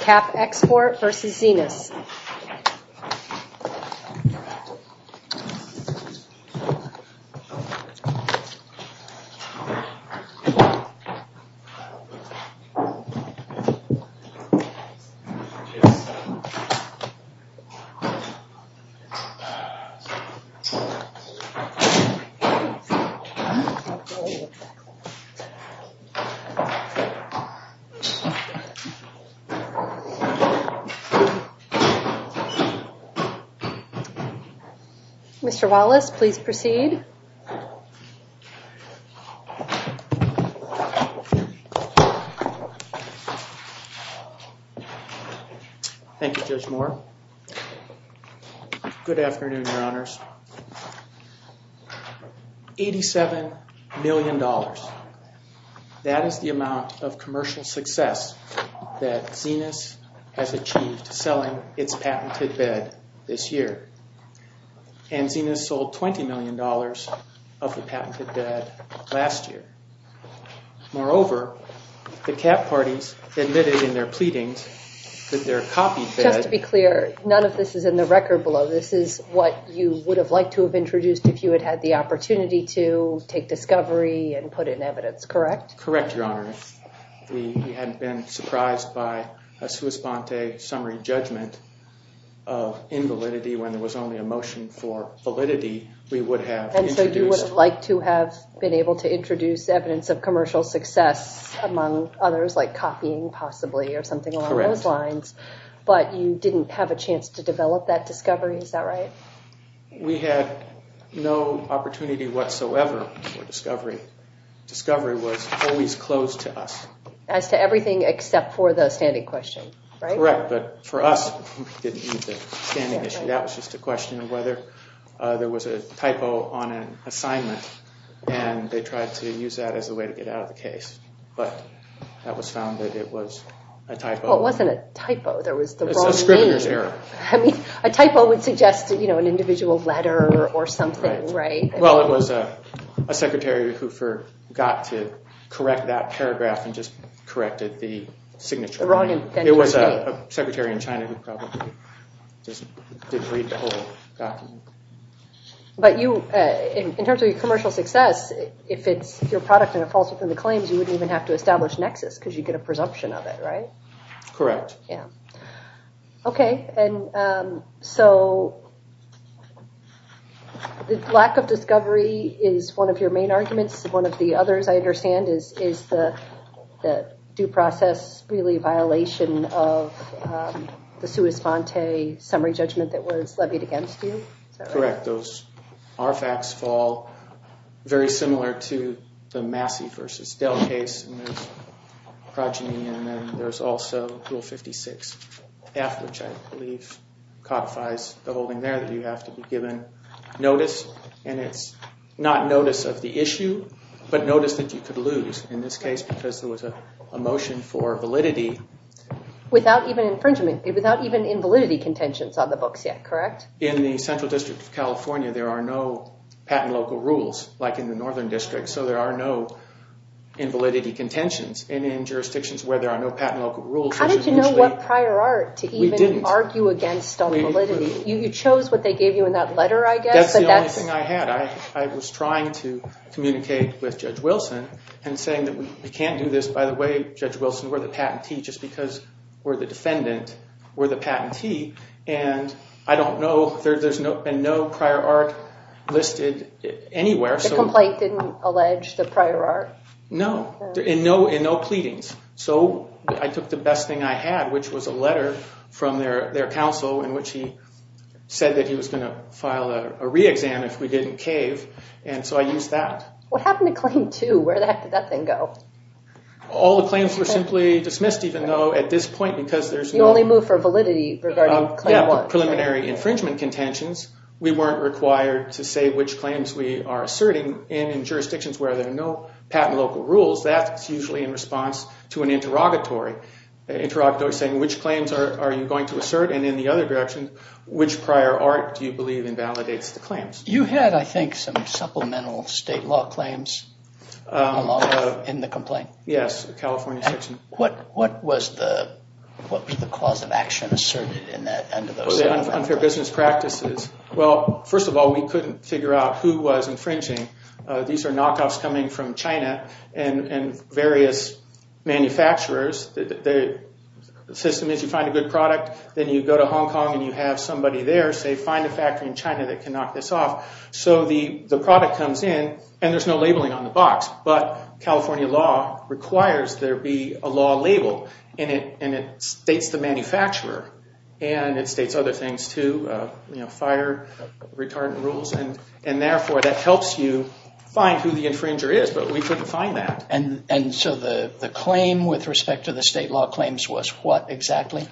Cap Export v. Zinus. Mr. Wallace, please proceed. Thank you, Judge Moore. Good afternoon, Your Honors. $87 million. That is the amount of commercial success that Zinus has achieved selling its patented bed this year. And Zinus sold $20 million of the patented bed last year. Moreover, the cap parties admitted in their pleadings that their copied bed... You would have liked to have introduced if you had had the opportunity to take discovery and put in evidence, correct? Correct, Your Honor. If we hadn't been surprised by a sua sponte summary judgment of invalidity when there was only a motion for validity, we would have introduced... And so you would have liked to have been able to introduce evidence of commercial success among others, like copying possibly or something along those lines. But you didn't have a chance to develop that discovery, is that right? We had no opportunity whatsoever for discovery. Discovery was always closed to us. As to everything except for the standing question, right? Correct. But for us, we didn't need the standing issue. That was just a question of whether there was a typo on an assignment. And they tried to use that as a way to get out of the case. But that was found that it was a typo. Well, it wasn't a typo. There was the wrong name. A typo would suggest an individual letter or something, right? Well, it was a secretary who forgot to correct that paragraph and just corrected the signature. It was a secretary in China who probably just didn't read the whole document. But in terms of your commercial success, if it's your product and it falls within the claims, you wouldn't even have to establish nexus because you get a presumption of it, right? Correct. Okay. And so the lack of discovery is one of your main arguments. One of the others I understand is the due process really a violation of the sua sponte summary judgment that was levied against you. Correct. Those RFACs fall very similar to the Massey v. Dell case. And there's progeny and then there's also Rule 56, which I believe codifies the whole thing there that you have to be given notice. And it's not notice of the issue, but notice that you could lose in this case because there was a motion for validity. Without even infringement, without even invalidity contentions on the books yet, correct? In the Central District of California, there are no patent local rules like in the Northern District. So there are no invalidity contentions. And in jurisdictions where there are no patent local rules, which is usually— How did you know what prior art to even argue against on validity? We didn't. You chose what they gave you in that letter, I guess? That's the only thing I had. I was trying to communicate with Judge Wilson and saying that we can't do this. By the way, Judge Wilson, we're the patentee just because we're the defendant. And I don't know—there's been no prior art listed anywhere. The complaint didn't allege the prior art? No. In no pleadings. So I took the best thing I had, which was a letter from their counsel in which he said that he was going to file a re-exam if we didn't cave. And so I used that. What happened to Claim 2? Where the heck did that thing go? All the claims were simply dismissed, even though at this point, because there's no— You only moved for validity regarding Claim 1. Yeah, preliminary infringement contentions. We weren't required to say which claims we are asserting. And in jurisdictions where there are no patent local rules, that's usually in response to an interrogatory. Interrogatory saying, which claims are you going to assert? And in the other direction, which prior art do you believe invalidates the claims? You had, I think, some supplemental state law claims in the complaint. Yes, the California section. What was the cause of action asserted in that— The unfair business practices. Well, first of all, we couldn't figure out who was infringing. These are knockoffs coming from China and various manufacturers. The system is you find a good product, then you go to Hong Kong and you have somebody there say, So the product comes in, and there's no labeling on the box. But California law requires there be a law label, and it states the manufacturer. And it states other things, too, you know, fire, retardant rules. And therefore, that helps you find who the infringer is, but we couldn't find that. And so the claim with respect to the state law claims was what exactly?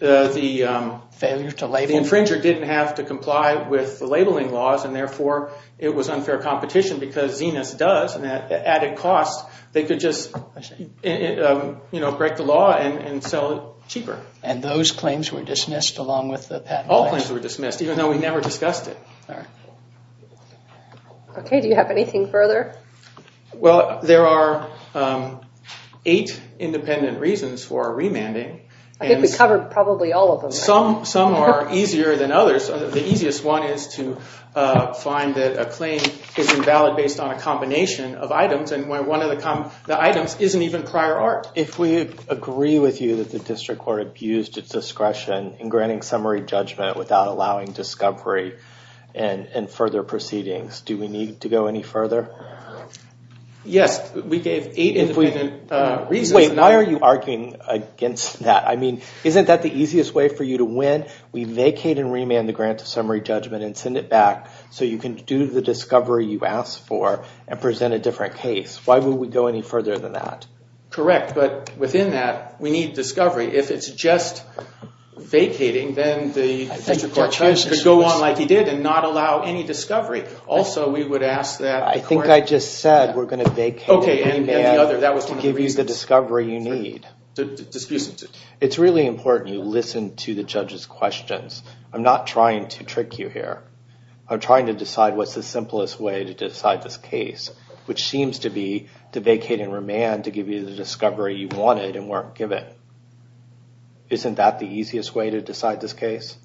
The— Failure to label. The infringer didn't have to comply with the labeling laws, and therefore it was unfair competition because Xenus does, and at added cost, they could just, you know, break the law and sell it cheaper. And those claims were dismissed along with the patent rights? All claims were dismissed, even though we never discussed it. All right. Okay, do you have anything further? Well, there are eight independent reasons for remanding. I think we covered probably all of them. Some are easier than others. The easiest one is to find that a claim is invalid based on a combination of items, and when one of the items isn't even prior art. If we agree with you that the district court abused its discretion in granting summary judgment without allowing discovery and further proceedings, do we need to go any further? Yes, we gave eight independent reasons. Wait, why are you arguing against that? I mean, isn't that the easiest way for you to win? We vacate and remand the grant of summary judgment and send it back so you can do the discovery you asked for and present a different case. Why would we go any further than that? Correct, but within that, we need discovery. If it's just vacating, then the district court could go on like it did and not allow any discovery. Also, we would ask that— I think I just said we're going to vacate and remand to give you the discovery you need. It's really important you listen to the judge's questions. I'm not trying to trick you here. I'm trying to decide what's the simplest way to decide this case, which seems to be to vacate and remand to give you the discovery you wanted and weren't given. Isn't that the easiest way to decide this case?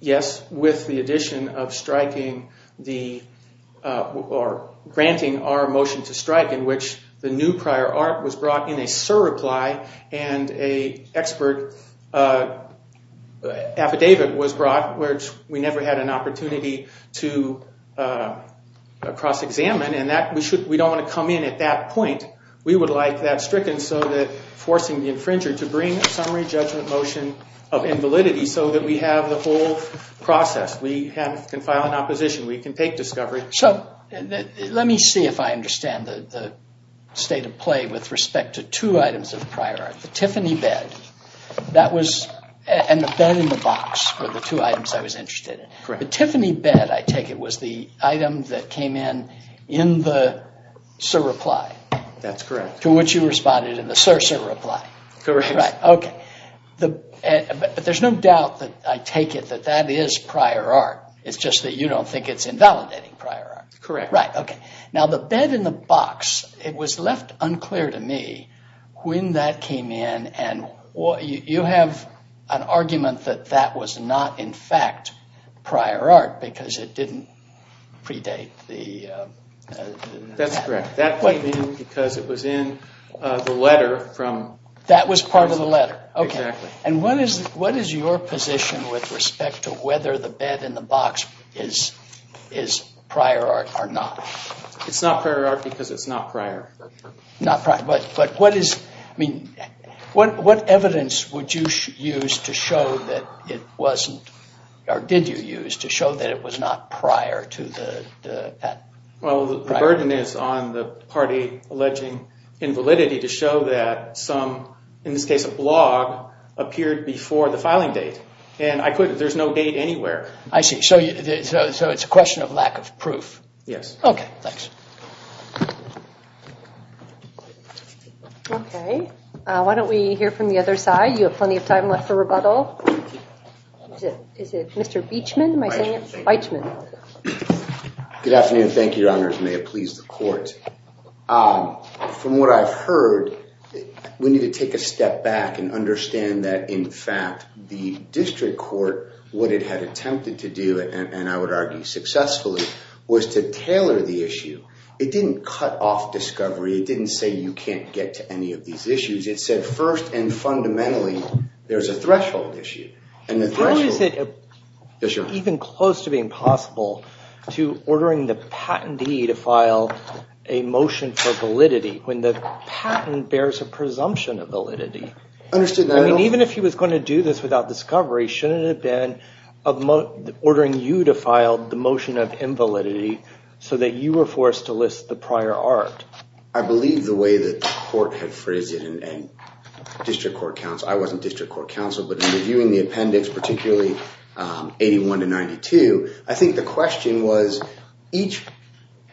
Yes, with the addition of striking the—or granting our motion to strike in which the new prior art was brought in a surreply and an expert affidavit was brought which we never had an opportunity to cross-examine, and we don't want to come in at that point. We would like that stricken so that forcing the infringer to bring a summary judgment motion of invalidity so that we have the whole process. We can file an opposition. We can take discovery. So let me see if I understand the state of play with respect to two items of prior art. The Tiffany bed, that was—and the bed in the box were the two items I was interested in. The Tiffany bed, I take it, was the item that came in in the surreply. That's correct. To which you responded in the sur surreply. Correct. Okay. But there's no doubt that I take it that that is prior art. It's just that you don't think it's invalidating prior art. Correct. Right. Okay. Now the bed in the box, it was left unclear to me when that came in, and you have an argument that that was not in fact prior art because it didn't predate the— That's correct. That came in because it was in the letter from— That was part of the letter. Exactly. And what is your position with respect to whether the bed in the box is prior art or not? It's not prior art because it's not prior. Not prior. But what is—I mean, what evidence would you use to show that it wasn't— or did you use to show that it was not prior to the— Well, the burden is on the party alleging invalidity to show that some, in this case a blog, appeared before the filing date. And I couldn't—there's no date anywhere. I see. So it's a question of lack of proof. Yes. Okay. Thanks. Okay. Why don't we hear from the other side? You have plenty of time left for rebuttal. Is it Mr. Beachman? Am I saying it right? Beachman. Good afternoon. Thank you, Your Honors. May it please the Court. From what I've heard, we need to take a step back and understand that, in fact, the district court, what it had attempted to do, and I would argue successfully, was to tailor the issue. It didn't cut off discovery. It didn't say you can't get to any of these issues. It said, first and fundamentally, there's a threshold issue. How is it even close to being possible to ordering the patentee to file a motion for validity when the patent bears a presumption of validity? Understood that— I mean, even if he was going to do this without discovery, shouldn't it have been ordering you to file the motion of invalidity so that you were forced to list the prior art? I believe the way that the Court had phrased it, and district court counsel— particularly 81 to 92— I think the question was, each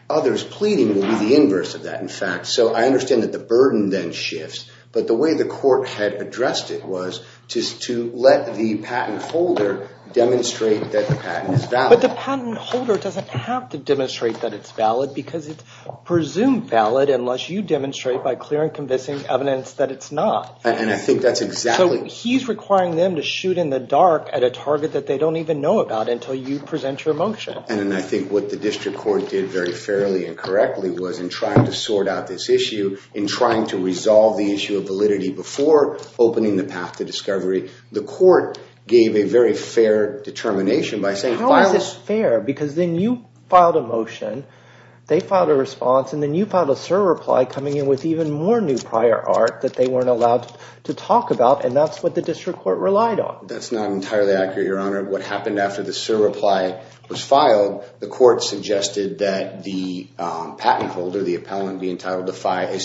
other's pleading will be the inverse of that, in fact. So I understand that the burden then shifts, but the way the Court had addressed it was to let the patent holder demonstrate that the patent is valid. But the patent holder doesn't have to demonstrate that it's valid because it's presumed valid unless you demonstrate by clear and convincing evidence that it's not. And I think that's exactly— he's requiring them to shoot in the dark at a target that they don't even know about until you present your motion. And I think what the district court did very fairly and correctly was in trying to sort out this issue, in trying to resolve the issue of validity before opening the path to discovery, the Court gave a very fair determination by saying— How is this fair? Because then you filed a motion, they filed a response, and then you filed a server reply coming in with even more new prior art that they weren't allowed to talk about. And that's what the district court relied on. That's not entirely accurate, Your Honor. What happened after the server reply was filed, the Court suggested that the patent holder, the appellant being entitled to file a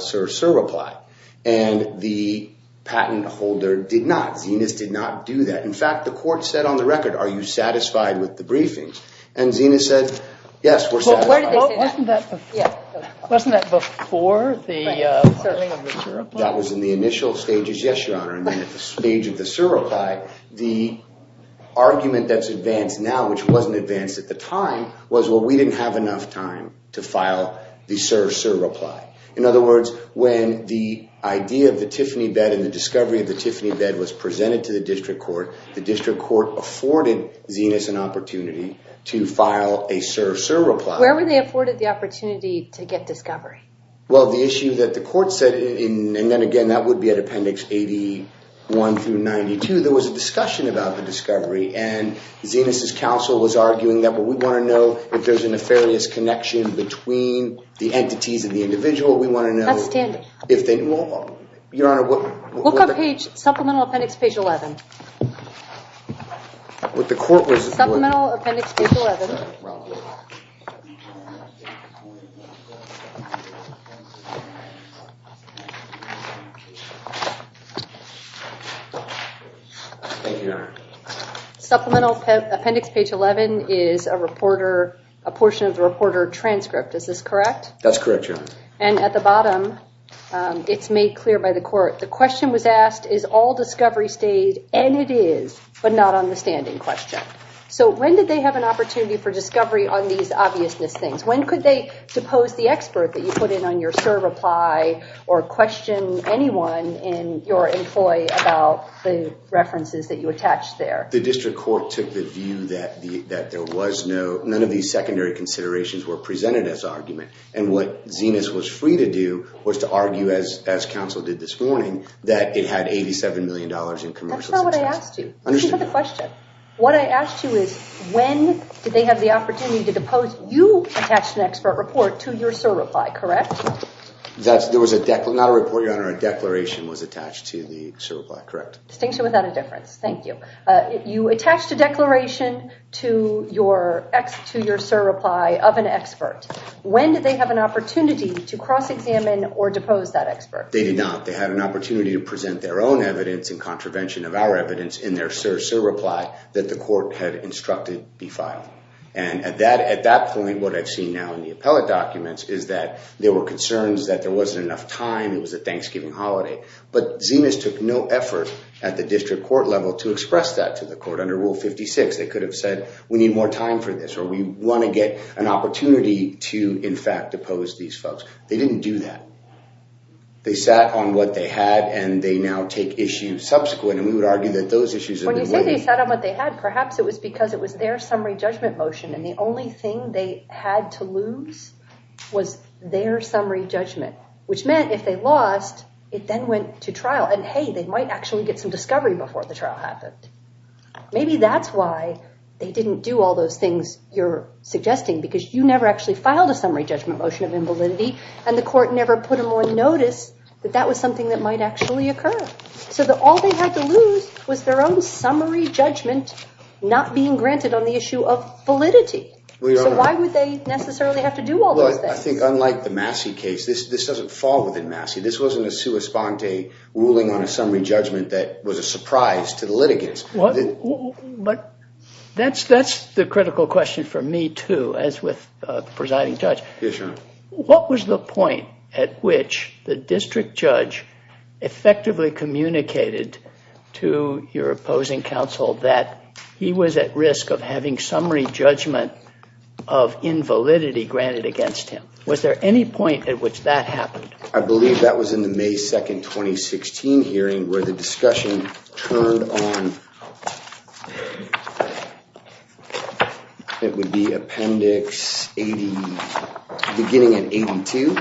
server reply. And the patent holder did not. Zenas did not do that. In fact, the Court said on the record, are you satisfied with the briefing? And Zenas said, yes, we're satisfied. Wasn't that before the server reply? That was in the initial stages, yes, Your Honor. And then at the stage of the server reply, the argument that's advanced now, which wasn't advanced at the time, was, well, we didn't have enough time to file the server reply. In other words, when the idea of the Tiffany bed and the discovery of the Tiffany bed was presented to the district court, the district court afforded Zenas an opportunity to file a server reply. Where were they afforded the opportunity to get discovery? Well, the issue that the Court said, and then again, that would be at Appendix 81 through 92, there was a discussion about the discovery. And Zenas' counsel was arguing that, well, we want to know if there's a nefarious connection between the entities and the individual. We want to know if they... Your Honor, what... Look on page, supplemental appendix page 11. What the Court was... Supplemental appendix page 11. Thank you, Your Honor. Supplemental appendix page 11 is a reporter, a portion of the reporter transcript, is this correct? That's correct, Your Honor. And at the bottom, it's made clear by the Court, the question was asked, is all discovery stayed, and it is, but not on the standing question. So when did they have an opportunity for discovery on these obviousness things? When could they depose the expert that you put in on your server reply or question anyone in your employee about the references that you attached there? The district court took the view that there was no... None of these secondary considerations were presented as argument. And what Zenas was free to do was to argue, as counsel did this morning, that it had $87 million in commercial... That's not what I asked you. Let me repeat the question. What I asked you is when did they have the opportunity to depose... You attached an expert report to your server reply, correct? There was a... Not a report, Your Honor. A declaration was attached to the server reply, correct. Distinction without a difference. Thank you. You attached a declaration to your server reply of an expert. When did they have an opportunity to cross-examine or depose that expert? They did not. They had an opportunity to present their own evidence in contravention of our evidence in their server reply that the court had instructed be filed. And at that point, what I've seen now in the appellate documents is that there were concerns that there wasn't enough time. It was a Thanksgiving holiday. But Zenas took no effort at the district court level to express that to the court under Rule 56. They could have said, we need more time for this or we want to get an opportunity to, in fact, depose these folks. They didn't do that. They sat on what they had, and they now take issues subsequent. And we would argue that those issues are... When you say they sat on what they had, perhaps it was because it was their summary judgment motion. And the only thing they had to lose was their summary judgment, which meant if they lost, it then went to trial. And, hey, they might actually get some discovery before the trial happened. Maybe that's why they didn't do all those things you're suggesting because you never actually filed a summary judgment motion of invalidity and the court never put them on notice that that was something that might actually occur. So all they had to lose was their own summary judgment not being granted on the issue of validity. So why would they necessarily have to do all those things? Well, I think unlike the Massey case, this doesn't fall within Massey. This wasn't a sua sponte ruling on a summary judgment that was a surprise to the litigants. But that's the critical question for me, too, as with the presiding judge. Yes, Your Honor. What was the point at which the district judge effectively communicated to your opposing counsel that he was at risk of having summary judgment of invalidity granted against him? Was there any point at which that happened? I believe that was in the May 2nd, 2016 hearing where the discussion turned on, it would be Appendix 80, beginning at 82.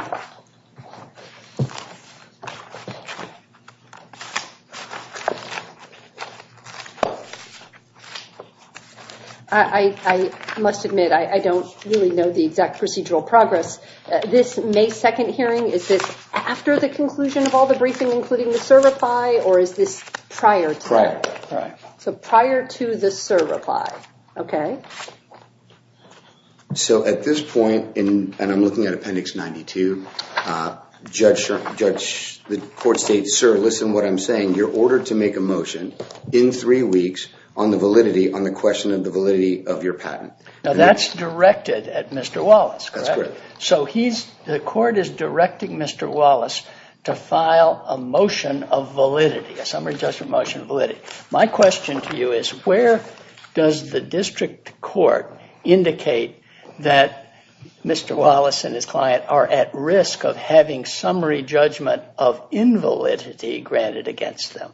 I must admit, I don't really know the exact procedural progress. This May 2nd hearing, is this after the conclusion of all the briefing including the SIR reply, or is this prior to that? Prior. So prior to the SIR reply, okay. So at this point, and I'm looking at Appendix 92, the court states, Sir, listen to what I'm saying. You're ordered to make a motion in three weeks on the validity, on the question of the validity of your patent. Now that's directed at Mr. Wallace, correct? That's correct. So the court is directing Mr. Wallace to file a motion of validity, a summary judgment motion of validity. My question to you is, where does the district court indicate that Mr. Wallace and his client are at risk of having summary judgment of invalidity granted against them?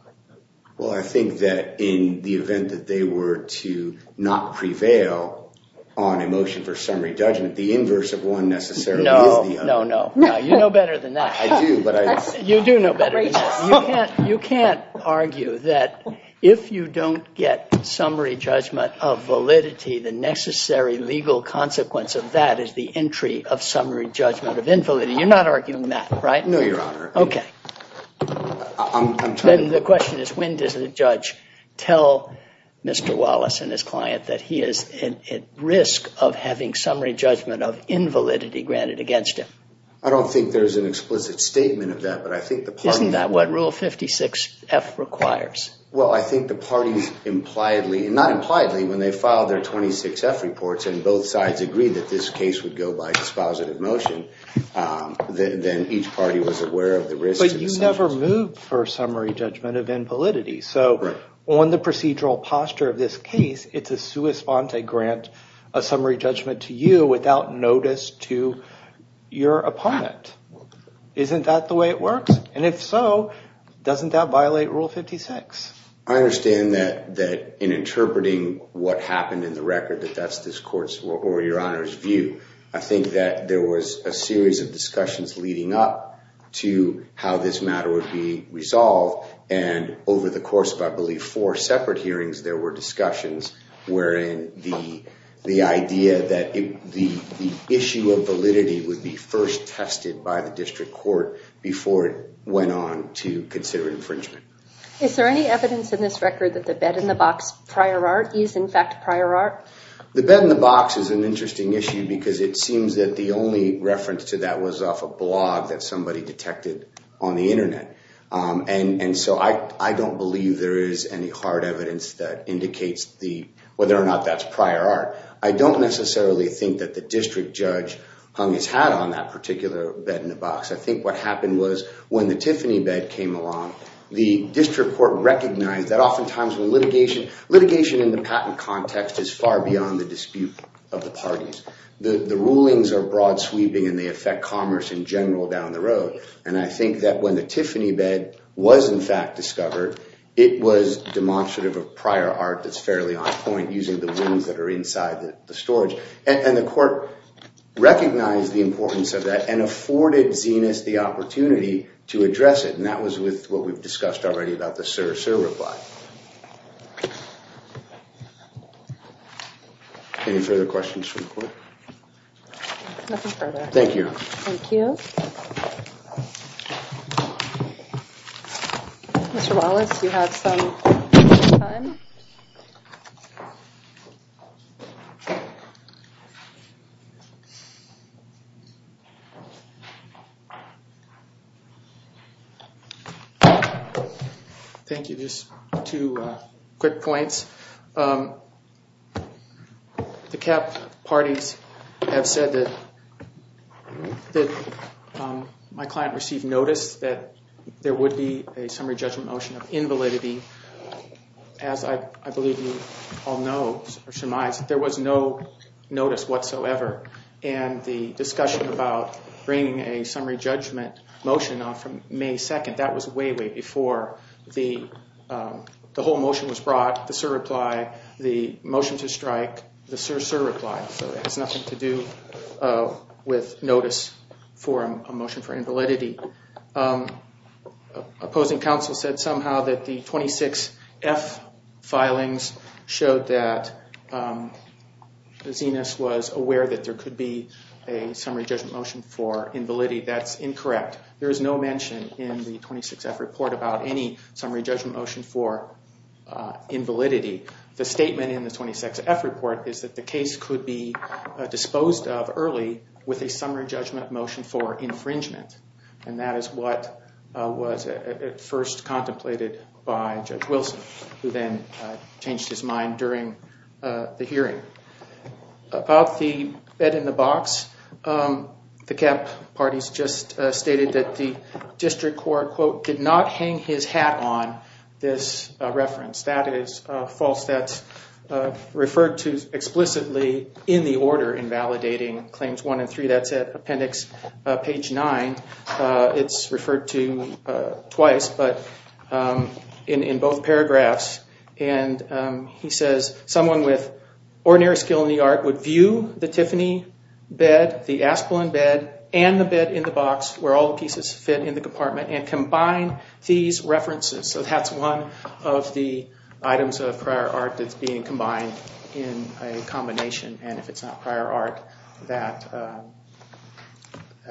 Well, I think that in the event that they were to not prevail on a motion for summary judgment, the inverse of one necessarily is the other. No, no, no. You know better than that. I do. You do know better than that. You can't argue that if you don't get summary judgment of validity, the necessary legal consequence of that is the entry of summary judgment of invalidity. You're not arguing that, right? No, Your Honor. Okay. Then the question is, when does the judge tell Mr. Wallace and his client that he is at risk of having summary judgment of invalidity granted against him? I don't think there's an explicit statement of that, but I think the parties Isn't that what Rule 56F requires? Well, I think the parties impliedly, and not impliedly, when they filed their 26F reports and both sides agreed that this case would go by dispositive motion, then each party was aware of the risk. But you never moved for summary judgment of invalidity. So on the procedural posture of this case, it's a sua sponte grant, a summary judgment to you without notice to your opponent. Isn't that the way it works? And if so, doesn't that violate Rule 56? I understand that in interpreting what happened in the record, that that's this court's or Your Honor's view. I think that there was a series of discussions leading up to how this matter would be resolved, and over the course of I believe four separate hearings, there were discussions wherein the idea that the issue of validity would be first tested by the district court before it went on to consider infringement. Is there any evidence in this record that the bed-in-the-box prior art is in fact prior art? The bed-in-the-box is an interesting issue because it seems that the only And so I don't believe there is any hard evidence that indicates whether or not that's prior art. I don't necessarily think that the district judge hung his hat on that particular bed-in-the-box. I think what happened was when the Tiffany bed came along, the district court recognized that oftentimes litigation in the patent context is far beyond the dispute of the parties. The rulings are broad sweeping and they affect commerce in general down the road, and I think that when the Tiffany bed was in fact discovered, it was demonstrative of prior art that's fairly on point using the rooms that are inside the storage. And the court recognized the importance of that and afforded Zenas the opportunity to address it, and that was with what we've discussed already about the Sir, Sir reply. Any further questions from the court? Nothing further. Thank you. Thank you. Mr. Wallace, you have some time. Thank you. Just two quick points. The CAP parties have said that my client received notice that there would be a summary judgment motion of invalidity. As I believe you all know, there was no notice whatsoever, and the discussion about bringing a summary judgment motion on May 2nd, that was way, way before the whole motion was brought. The Sir reply, the motion to strike, the Sir, Sir reply, so it has nothing to do with notice for a motion for invalidity. Opposing counsel said somehow that the 26F filings showed that Zenas was aware that there could be a summary judgment motion for invalidity. That's incorrect. There is no mention in the 26F report about any summary judgment motion for invalidity. The statement in the 26F report is that the case could be disposed of early with a summary judgment motion for infringement, and that is what was at first contemplated by Judge Wilson, who then changed his mind during the hearing. About the bed-in-the-box, the CAP parties just stated that the district court, quote, did not hang his hat on this reference. That is false. That's referred to explicitly in the order in validating Claims 1 and 3. That's at appendix page 9. It's referred to twice, but in both paragraphs. And he says someone with ordinary skill in the art would view the Tiffany bed, the Asplen bed, and the bed-in-the-box, where all the pieces fit in the compartment, and combine these references. So that's one of the items of prior art that's being combined in a combination. And if it's not prior art, that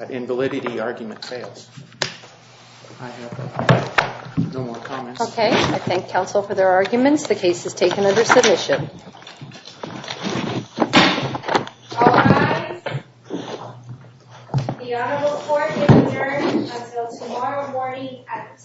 invalidity argument fails. I have no more comments. Okay. I thank counsel for their arguments. The case is taken under submission. All rise. The honorable court is adjourned until tomorrow morning at 10 a.m.